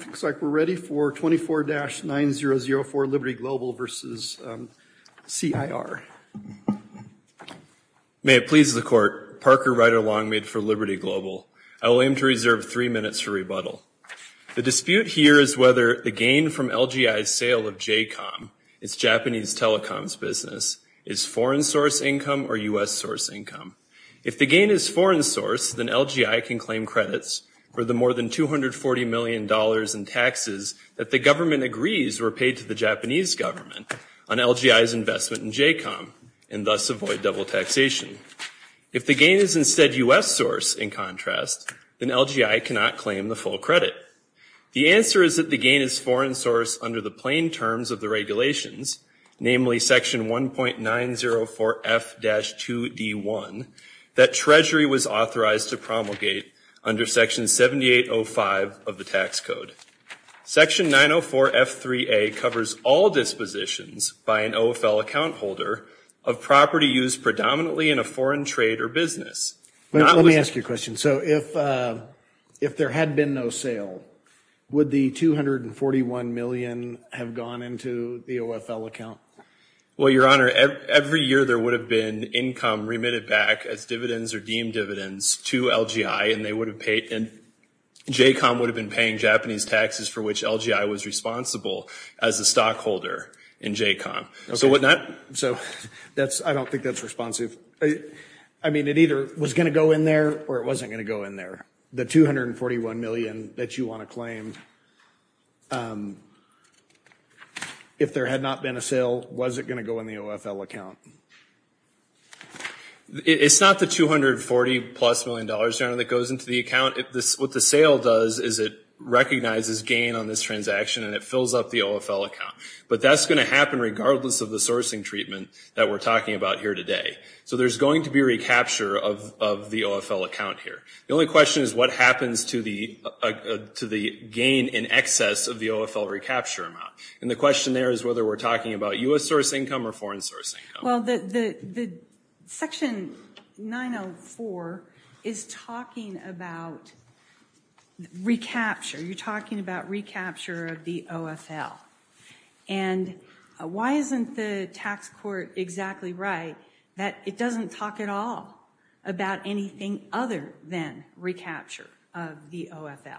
It looks like we're ready for 24-9004 Liberty Global v. CIR. May it please the Court, Parker Rider-Longmead for Liberty Global. I will aim to reserve three minutes for rebuttal. The dispute here is whether the gain from LGI's sale of JCOM, its Japanese telecoms business, is foreign source income or U.S. source income. If the gain is foreign source, then LGI can claim credits for the more than $240 million in taxes that the government agrees were paid to the Japanese government on LGI's investment in JCOM, and thus avoid double taxation. If the gain is instead U.S. source, in contrast, then LGI cannot claim the full credit. The answer is that the gain is foreign source under the plain terms of the regulations, namely Section 1.904F-2D1, that Treasury was authorized to promulgate under Section 7805 of the Tax Code. Section 904F-3A covers all dispositions by an OFL account holder of property used predominantly in a foreign trade or business. Let me ask you a question. If there had been no sale, would the $241 million have gone into the OFL account? Well, Your Honor, every year there would have been income remitted back as dividends or deemed dividends to LGI, and JCOM would have been paying Japanese taxes for which LGI was responsible as a stockholder in JCOM. I don't think that's responsive. I mean, it either was going to go in there or it wasn't going to go in there. The $241 million that you want to claim, if there had not been a sale, was it going to go in the OFL account? It's not the $240-plus million, Your Honor, that goes into the account. What the sale does is it recognizes gain on this transaction and it fills up the OFL account. But that's going to happen regardless of the sourcing treatment that we're talking about here today. So there's going to be a recapture of the OFL account here. The only question is what happens to the gain in excess of the OFL recapture amount. And the question there is whether we're talking about U.S. source income or foreign source income. Well, Section 904 is talking about recapture. You're talking about recapture of the OFL. And why isn't the tax court exactly right that it doesn't talk at all about anything other than recapture of the OFL?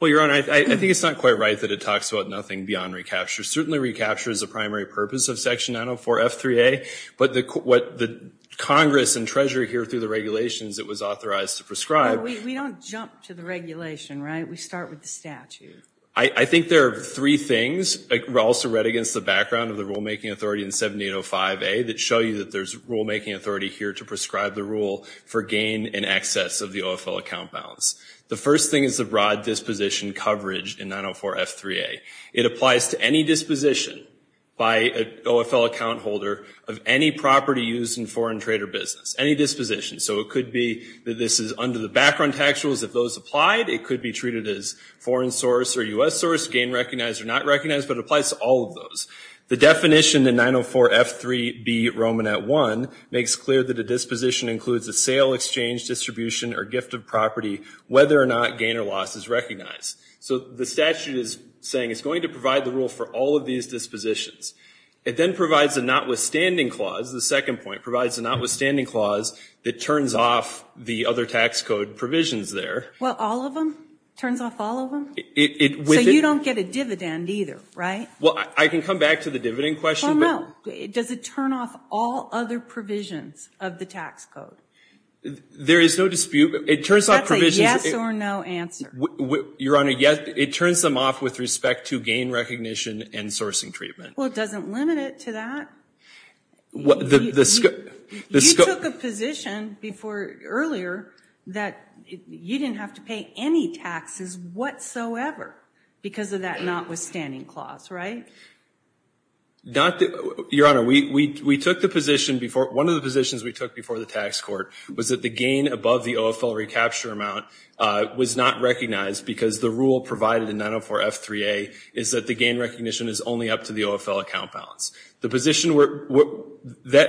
Well, Your Honor, I think it's not quite right that it talks about nothing beyond recapture. Certainly recapture is the primary purpose of Section 904 F3A. But what the Congress and Treasury hear through the regulations it was authorized to prescribe. But we don't jump to the regulation, right? We start with the statute. I think there are three things. I also read against the background of the rulemaking authority in 7805A that show you that there's rulemaking authority here to prescribe the rule for gain in excess of the OFL account balance. The first thing is the broad disposition coverage in 904 F3A. It applies to any disposition by an OFL account holder of any property used in foreign trade or business. Any this is under the background tax rules. If those applied, it could be treated as foreign source or U.S. source, gain recognized or not recognized. But it applies to all of those. The definition in 904 F3B Romanet I makes clear that a disposition includes a sale, exchange, distribution, or gift of property, whether or not gain or loss is recognized. So the statute is saying it's going to provide the rule for all of these dispositions. It then provides a notwithstanding clause, the second point, provides a notwithstanding clause that turns off the other tax code provisions there. Well, all of them? Turns off all of them? So you don't get a dividend either, right? Well, I can come back to the dividend question. Well, no. Does it turn off all other provisions of the tax code? There is no dispute. It turns off provisions. That's a yes or no answer. Your Honor, yes. It turns them off with respect to gain recognition and sourcing treatment. Well, it doesn't limit it to that. You took a position before earlier that you didn't have to pay any taxes whatsoever because of that notwithstanding clause, right? Your Honor, one of the positions we took before the tax court was that the gain above the OFL recapture amount was not recognized because the rule provided in 904 F3A is that the gain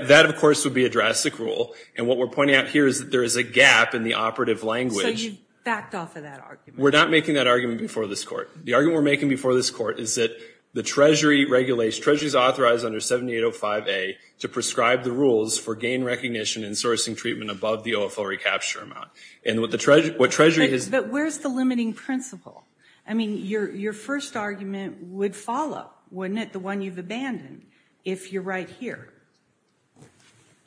That, of course, would be a drastic rule. And what we're pointing out here is that there is a gap in the operative language. So you've backed off of that argument? We're not making that argument before this court. The argument we're making before this court is that the Treasury regulates, Treasury's authorized under 7805A to prescribe the rules for gain recognition and sourcing treatment above the OFL recapture amount. And what Treasury is... But where's the limiting principle? I mean, your first argument would follow, wouldn't it? The one you've abandoned, if you're right here.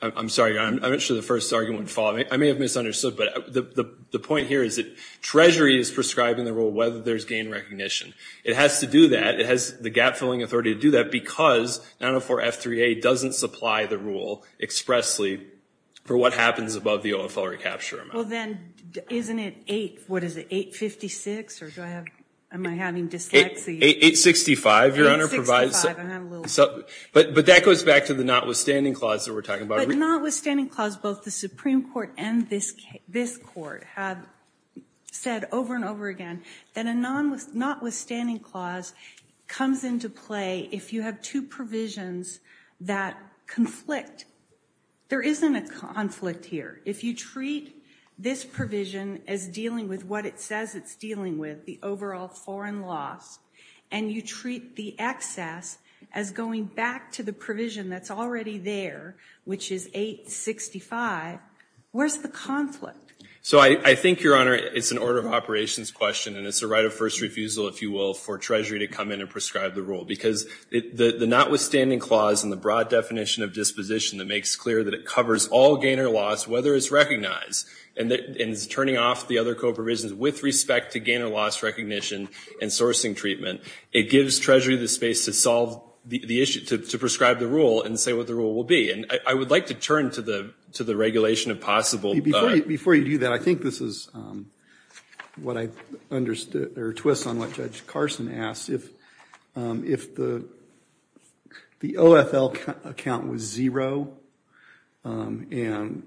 I'm sorry, Your Honor. I'm not sure the first argument would follow. I may have misunderstood. But the point here is that Treasury is prescribing the rule whether there's gain recognition. It has to do that. It has the gap-filling authority to do that because 904 F3A doesn't supply the rule expressly for what happens above the OFL recapture amount. Well, then, isn't it 8... What is it, 856? Or do I have... Am I having dyslexia? 865, Your Honor. I'm having a little... So, but that goes back to the notwithstanding clause that we're talking about. But notwithstanding clause, both the Supreme Court and this Court have said over and over again that a notwithstanding clause comes into play if you have two provisions that conflict. There isn't a conflict here. If you treat this provision as dealing with what it says it's dealing with, the overall foreign loss, and you treat the excess as going back to the provision that's already there, which is 865, where's the conflict? So, I think, Your Honor, it's an order of operations question. And it's a right of first refusal, if you will, for Treasury to come in and prescribe the rule. Because the notwithstanding clause and the broad definition of disposition that makes clear that it covers all gain or loss, whether it's recognized and it's turning off the other co-provisions with respect to gain or loss recognition and sourcing treatment, it gives Treasury the space to solve the issue, to prescribe the rule and say what the rule will be. And I would like to turn to the regulation of possible... Before you do that, I think this is what I understood, or a twist on what Judge Carson asked. If the OFL account was zero and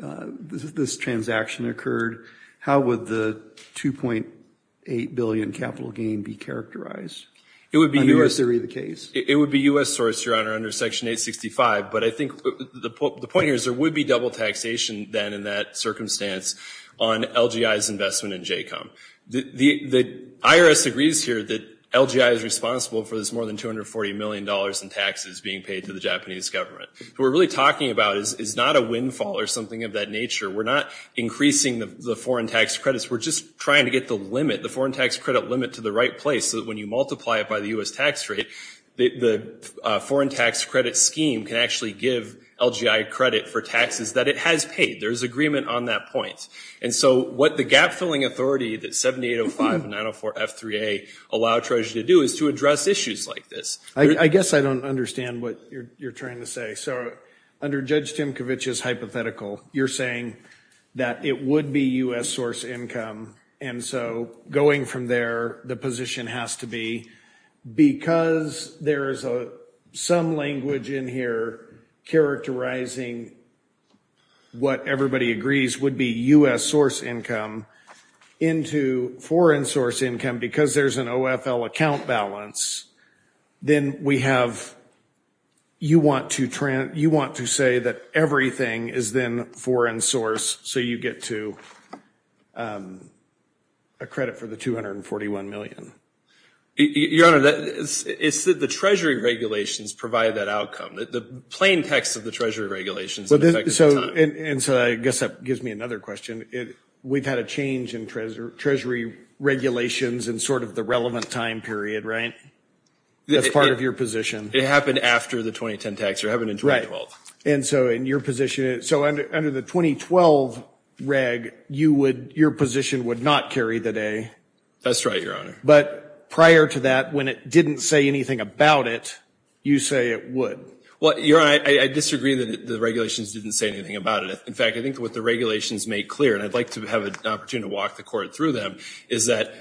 this transaction occurred, how would the $2.8 billion capital gain be characterized? Under your theory of the case. It would be U.S. sourced, Your Honor, under Section 865. But I think the point here is there would be double taxation then in that circumstance on LGI's investment in JCOM. The IRS agrees here that LGI is responsible for this more than $240 million in taxes being paid to the Japanese government. What we're really talking about is not a windfall or something of that nature. We're not increasing the foreign tax credits. We're just trying to get the limit, the foreign tax credit limit to the right place so that when you multiply it by the U.S. tax rate, the foreign tax credit scheme can actually give LGI credit for taxes that it has paid. There's agreement on that point. And so what the gap-filling authority that 7805 and 904 F3A allow Treasury to do is to address issues like this. I guess I don't understand what you're trying to say. So under Judge Timkovich's hypothetical, you're saying that it would be U.S. source income. And so going from there, the position has to be because there is some language in here characterizing what everybody agrees would be U.S. source income into foreign source income because there's an OFL account balance, then we have – you want to say that everything is then foreign source so you get to a credit for the $241 million. Your Honor, it's the Treasury regulations provide that outcome. The plain text of the Treasury regulations. And so I guess that gives me another question. We've had a change in Treasury regulations in sort of the relevant time period, right? That's part of your position. It happened after the 2010 tax. It happened in 2012. And so in your position – so under the 2012 reg, you would – your position would not carry the day. That's right, Your Honor. But prior to that, when it didn't say anything about it, you say it would. Well, Your Honor, I disagree that the regulations didn't say anything about it. In fact, I think what the regulations make clear, and I'd like to have an opportunity to walk the Court through them, is that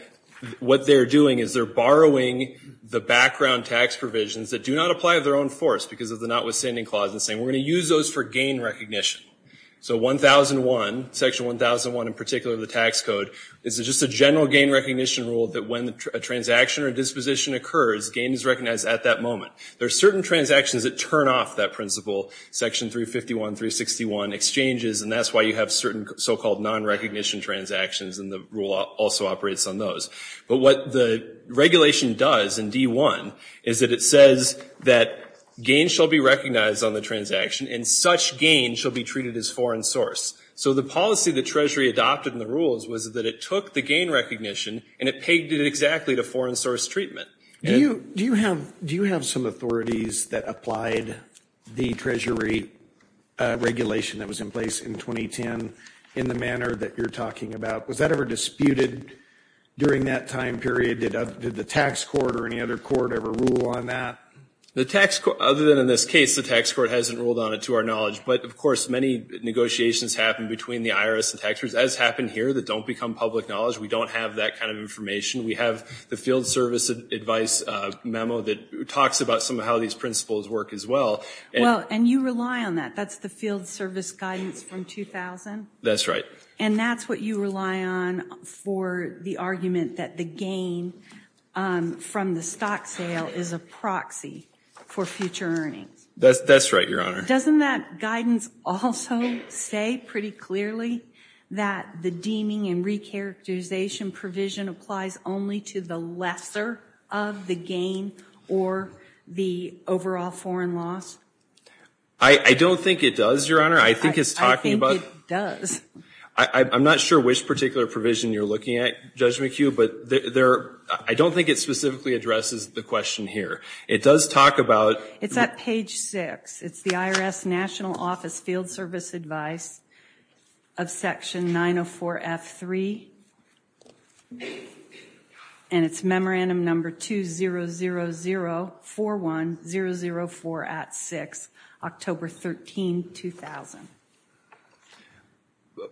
what they're doing is they're borrowing the background tax provisions that do not apply of their own force because of the notwithstanding clause that's saying we're going to use those for gain recognition. So 1001, section 1001 in particular of the tax code, is just a general gain recognition rule that when a transaction or disposition occurs, gain is recognized at that moment. There are certain transactions that turn off that principle, section 351, 361 exchanges, and that's why you have certain so-called non-recognition transactions, and the rule also operates on those. But what the regulation does in D1 is that it says that gain shall be recognized on the transaction and such gain shall be treated as foreign source. So the policy the Treasury adopted in the rules was that it took the gain recognition and it pegged it exactly to foreign source treatment. Do you have some authorities that applied the Treasury regulation that was in place in 2010 in the manner that you're talking about? Was that ever disputed during that time period? Did the tax court or any other court ever rule on that? The tax court, other than in this case, the tax court hasn't ruled on it to our knowledge. But of course, many negotiations happen between the IRS and tax courts, as happened here, that don't become public knowledge. We don't have that kind of information. We have the field service advice memo that talks about some of how these principles work as well. Well, and you rely on that. That's the field service guidance from 2000? That's right. And that's what you rely on for the argument that the gain from the stock sale is a proxy for future earnings? That's right, Your Honor. Doesn't that guidance also say pretty clearly that the deeming and recharacterization provision applies only to the lesser of the gain or the overall foreign loss? I don't think it does, Your Honor. I think it's talking about... I'm not sure which particular provision you're looking at, Judge McHugh. But I don't think it specifically addresses the question here. It does talk about... It's at page 6. It's the IRS National Office Field Service Advice of Section 904F3. And it's memorandum number 200041-004 at 6, October 13, 2000.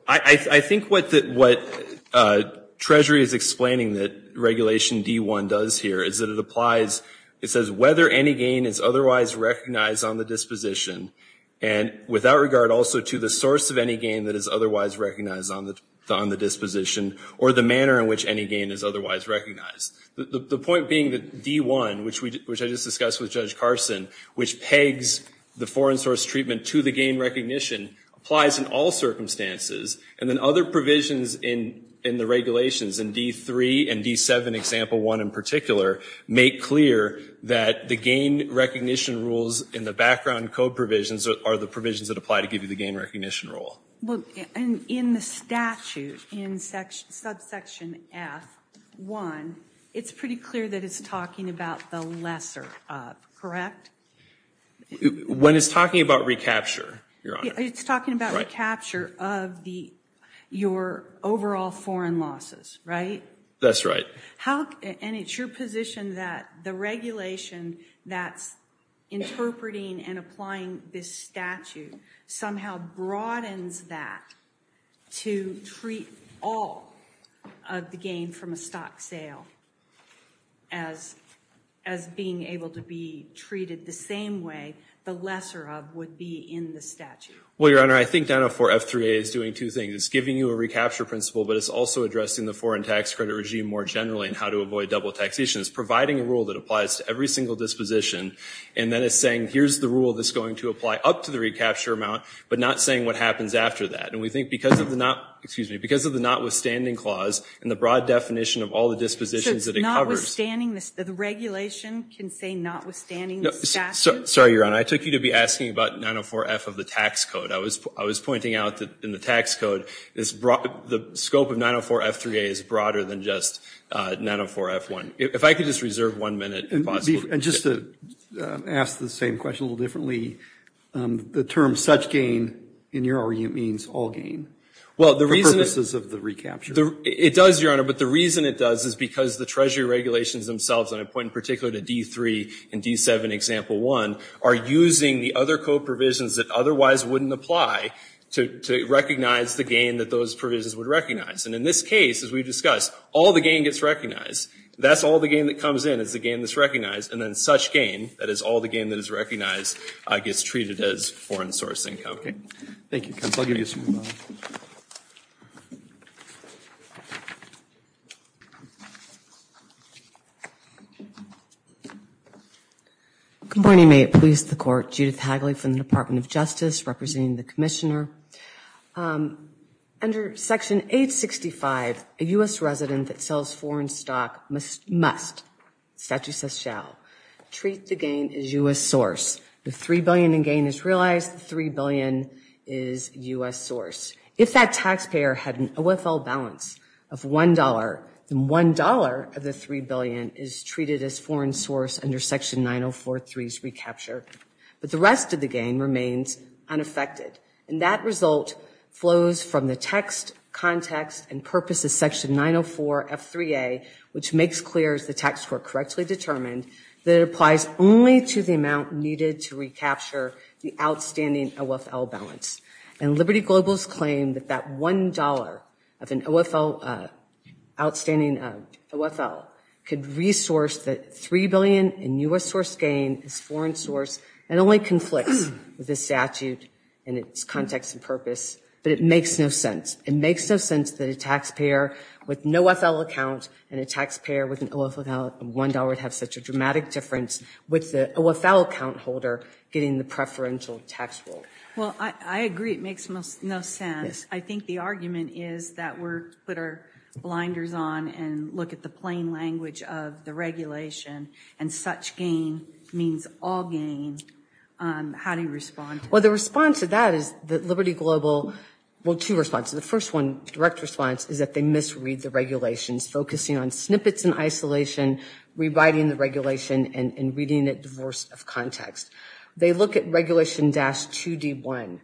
I think what Treasury is explaining that Regulation D1 does here is that it applies... It says whether any gain is otherwise recognized on the disposition, and without regard also to the source of any gain that is otherwise recognized on the disposition or the manner in which any gain is otherwise recognized. The point being that D1, which I just discussed with Judge Carson, which pegs the foreign source treatment to the gain recognition, applies in all circumstances. And then other provisions in the regulations in D3 and D7, example 1 in particular, make clear that the gain recognition rules in the background code provisions are the provisions that apply to give you the gain recognition rule. Well, in the statute, in subsection F1, it's pretty clear that it's talking about the lesser of, correct? When it's talking about recapture, Your Honor. It's talking about recapture of your overall foreign losses, right? That's right. And it's your position that the regulation that's interpreting and applying this statute somehow broadens that to treat all of the gain from a stock sale as being able to be treated the same way the lesser of would be in the statute? Well, Your Honor, I think 904 F3A is doing two things. It's giving you a recapture principle, but it's also addressing the foreign tax credit regime more generally and how to avoid double taxation. It's providing a rule that applies to every single disposition and then it's saying, here's the rule that's going to apply up to the recapture amount, but not saying what happens after that. And we think because of the notwithstanding clause and the broad definition of all the dispositions that it covers. So it's notwithstanding, the regulation can say notwithstanding the statute? Sorry, Your Honor. I took you to be asking about 904 F of the tax code. I was pointing out that in the tax code, the scope of 904 F3A is broader than just 904 F1. If I could just reserve one minute, if possible. And just to ask the same question a little differently, the term such gain in your argument means all gain. Well, the reason... For purposes of the recapture. It does, Your Honor, but the reason it does is because the Treasury regulations themselves, and I point in particular to D3 and D7 Example 1, are using the other code provisions that otherwise wouldn't apply to recognize the gain that those provisions would recognize. And in this case, as we discussed, all the gain gets recognized. That's all the gain that comes in is the gain that's recognized. And then such gain, that is all the gain that is recognized, gets treated as foreign source income. Okay. Thank you, counsel. Good morning. May it please the Court. Judith Hagley from the Department of Justice representing the Commissioner. Under Section 865, a U.S. resident that sells foreign stock must, statute says shall, treat the gain as U.S. source. The $3 billion in gain is realized. The $3 billion is U.S. source. If that taxpayer had an OFL balance of $1, then $1 of the $3 billion is treated as foreign source under Section 904.3's recapture. But the rest of the gain remains unaffected. And that result flows from the text, context, and purpose of Section 904.f3a, which makes clear, as the text were correctly determined, that it applies only to the amount needed to recapture the outstanding OFL balance. And Liberty Global's claim that that $1 of an outstanding OFL could resource the $3 billion in U.S. source gain is foreign source and only conflicts with the statute and its context and purpose. But it makes no sense. It makes no sense that a taxpayer with no OFL account and a taxpayer with an OFL of $1 would have such a dramatic difference with the OFL account holder getting the preferential tax roll. Well, I agree it makes no sense. I think the argument is that we put our blinders on and look at the plain language of the regulation and such gain means all gain. How do you respond? Well, the response to that is that Liberty Global, well, two responses. The first one, direct response, is that they misread the regulations, focusing on snippets and isolation, rewriting the regulation, and reading it divorced of context. They look at Regulation 2D1,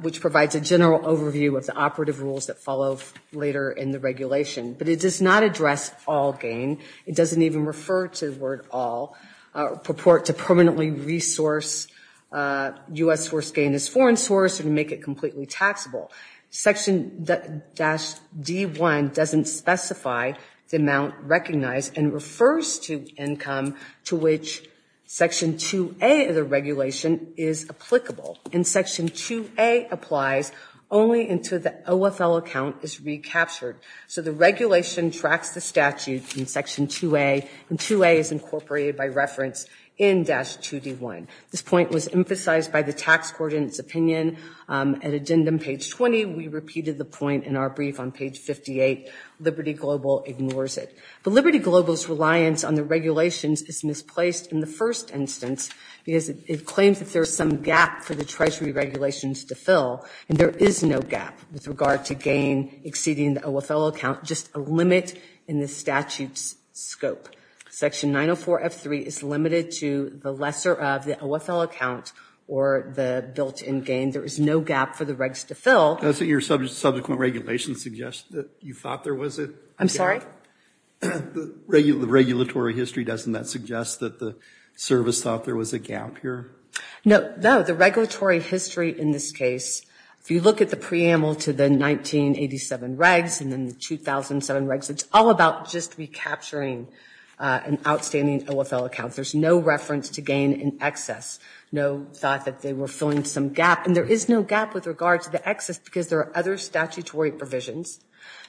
which provides a general overview of the operative rules that follow later in the regulation. But it does not address all gain. It doesn't even refer to the word all, purport to permanently resource U.S. source gain as foreign source and make it completely taxable. Section-D1 doesn't specify the amount recognized and refers to income to which Section 2A of the regulation is applicable. And Section 2A applies only until the OFL account is recaptured. So the regulation tracks the statute in Section 2A and 2A is incorporated by reference in dash 2D1. This point was emphasized by the tax coordinates opinion. At addendum page 20, we repeated the point in our brief on page 58. Liberty Global ignores it. But Liberty Global's reliance on the regulations is misplaced in the first instance because it claims that there's some gap for the Treasury regulations to fill. And there is no gap with regard to gain exceeding the OFL account, just a limit in the statute's scope. Section 904F3 is limited to the lesser of the OFL account or the built-in gain. There is no gap for the regs to fill. Does your subsequent regulations suggest that you thought there was a gap? I'm sorry? The regulatory history, doesn't that suggest that the service thought there was a gap here? No, the regulatory history in this case, if you look at the preamble to the 1987 regs and then the 2007 regs, it's all about just recapturing an outstanding OFL account. There's no reference to gain in excess, no thought that they were filling some gap. And there is no gap with regard to the excess because there are other statutory provisions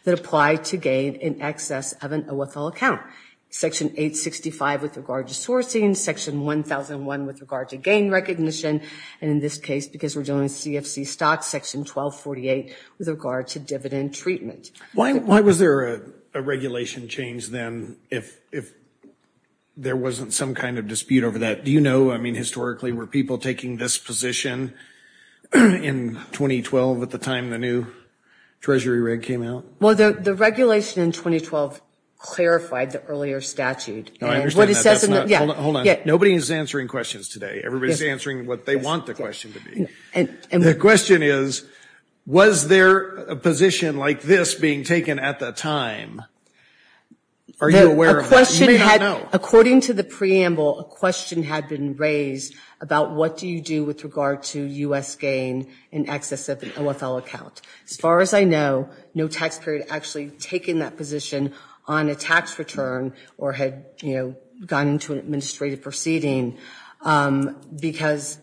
that apply to gain in excess of an OFL account. Section 865 with regard to sourcing, section 1001 with regard to gain recognition. And in this case, because we're dealing with CFC stocks, section 1248 with regard to dividend treatment. Why was there a regulation change then if there wasn't some kind of dispute over that? Do you know? I mean, historically, were people taking this position in 2012 at the time the new treasury reg came out? Well, the regulation in 2012 clarified the earlier statute. Nobody is answering questions today. Everybody's answering what they want the question to be. The question is, was there a position like this being taken at the time? Are you aware of that? You may not know. According to the preamble, a question had been raised about what do you do with regard to U.S. gain in excess of an OFL account. As far as I know, no taxpayer had actually taken that position on a tax return or had gone into an administrative proceeding. Because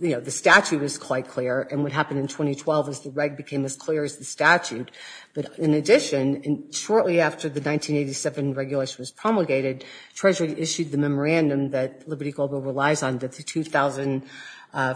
the statute is quite clear and what happened in 2012 is the reg became as clear as the statute. But in addition, shortly after the 1987 regulation was promulgated, Treasury issued the memorandum that Liberty Global relies on, the 2000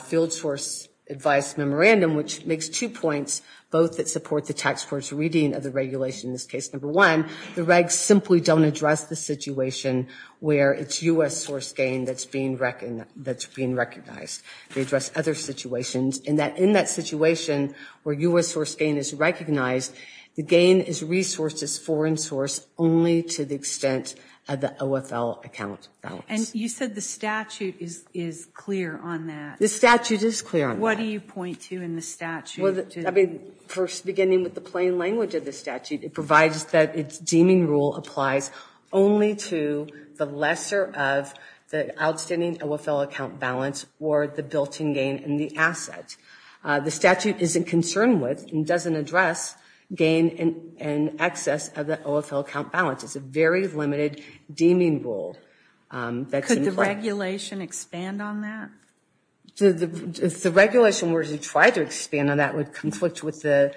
Field Source Advice Memorandum, which makes two points, both that support the tax court's reading of the regulation, in this case, number one, the regs simply don't address the situation where it's U.S. source gain that's being recognized. They address other situations and that in that situation where U.S. source gain is recognized, the gain is resourced as foreign source only to the extent of the OFL account balance. And you said the statute is clear on that. The statute is clear on that. What do you point to in the statute? First, beginning with the plain language of the statute, it provides that its deeming rule applies only to the lesser of the outstanding OFL account balance or the built-in gain in the asset. The statute isn't concerned with and doesn't address gain in excess of the OFL account balance. It's a very limited deeming rule. Could the regulation expand on that? If the regulation were to try to expand on that, would conflict with the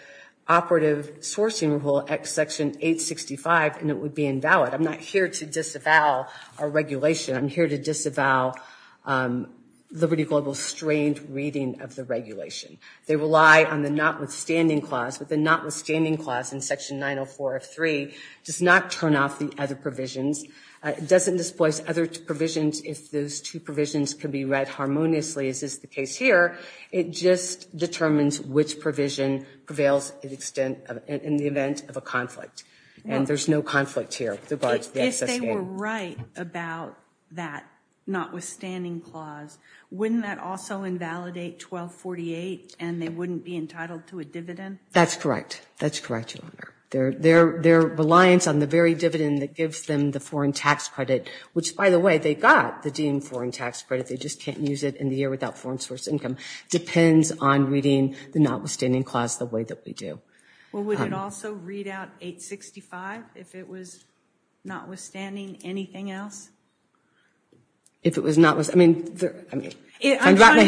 operative sourcing rule at section 865 and it would be invalid? I'm not here to disavow our regulation. I'm here to disavow Liberty Global's strained reading of the regulation. They rely on the notwithstanding clause, but the notwithstanding clause in section 904 of 3 does not turn off the other provisions. It doesn't displace other provisions if those two provisions can be read harmoniously as is the case here. It just determines which provision prevails in the event of a conflict. And there's no conflict here. If they were right about that notwithstanding clause, wouldn't that also invalidate 1248 and they wouldn't be entitled to a dividend? That's correct. That's correct, Your Honor. Their reliance on the very dividend that gives them the foreign tax credit, which by the way, they got the deemed foreign tax credit. They just can't use it in the year without foreign source income. Depends on reading the notwithstanding clause the way that we do. Well, would it also read out 865 if it was notwithstanding anything else? If it was notwithstanding. I mean, I'm trying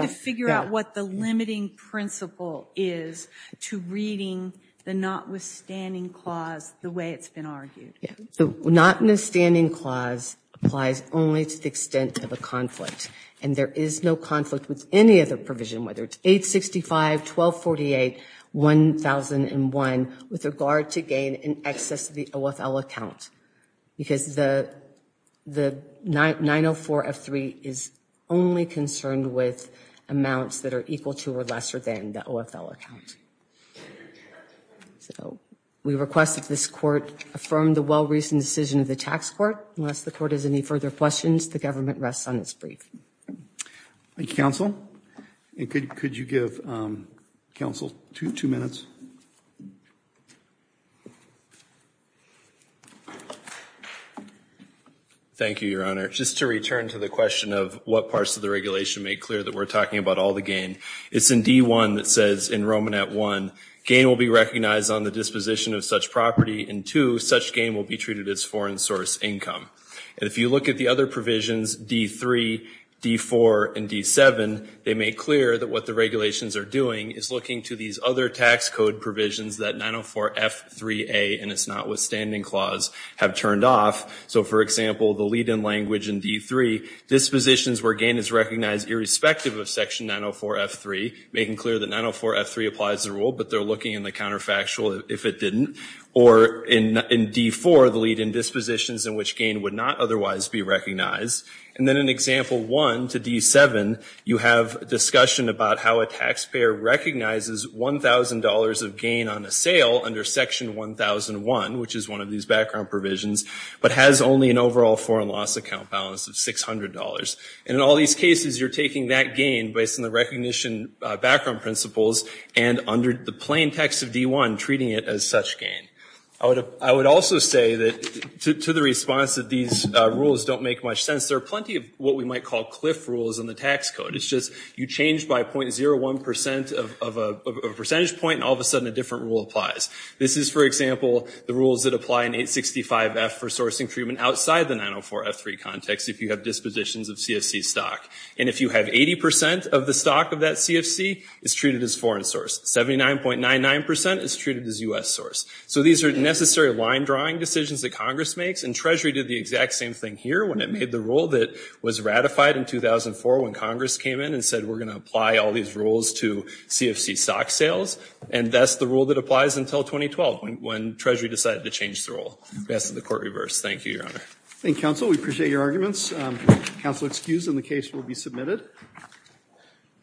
to figure out what the limiting principle is to reading the notwithstanding clause the way it's been argued. Yeah, so notwithstanding clause applies only to the extent of a conflict and there is no conflict with any other provision, whether it's 865, 1248, 1001 with regard to gain in excess of the OFL account because the 904F3 is only concerned with amounts that are equal to or lesser than the OFL account. So we request that this court affirm the well-reasoned decision of the tax court. Unless the court has any further questions, the government rests on its brief. Thank you, counsel. And could you give counsel two minutes? Thank you, your honor. Just to return to the question of what parts of the regulation make clear that we're talking about all the gain. It's in D1 that says in Romanet 1, gain will be recognized on the disposition of such property and two, such gain will be treated as foreign source income. And if you look at the other provisions, D3, D4, and D7, they make clear that what the regulations are doing is looking to these other tax code provisions that 904F3A and its notwithstanding clause have turned off. So for example, the lead-in language in D3, dispositions where gain is recognized irrespective of section 904F3, making clear that 904F3 applies the rule, but they're looking in the counterfactual if it didn't. Or in D4, the lead-in dispositions in which gain would not otherwise be recognized. And then in example one to D7, you have discussion about how a taxpayer recognizes $1,000 of gain on a sale under section 1001, which is one of these background provisions, but has only an overall foreign loss account balance of $600. And in all these cases, you're taking that gain based on the recognition background principles and under the plain text of D1, treating it as such gain. I would also say that to the response that these rules don't make much sense, there are plenty of what we might call cliff rules in the tax code. It's just you change by 0.01% of a percentage point and all of a sudden a different rule applies. This is, for example, the rules that apply in 865F for sourcing treatment outside the 904F3 context if you have dispositions of CFC stock. And if you have 80% of the stock of that CFC, it's treated as foreign source. 79.99% is treated as U.S. source. So these are necessary line drawing decisions that Congress makes, and Treasury did the exact same thing here when it made the rule that was ratified in 2004 when Congress came in and said, we're gonna apply all these rules to CFC stock sales. And that's the rule that applies until 2012 when Treasury decided to change the rule. We ask that the court reverse. Thank you, Your Honor. Thank you, Counsel. We appreciate your arguments. Counsel excused and the case will be submitted.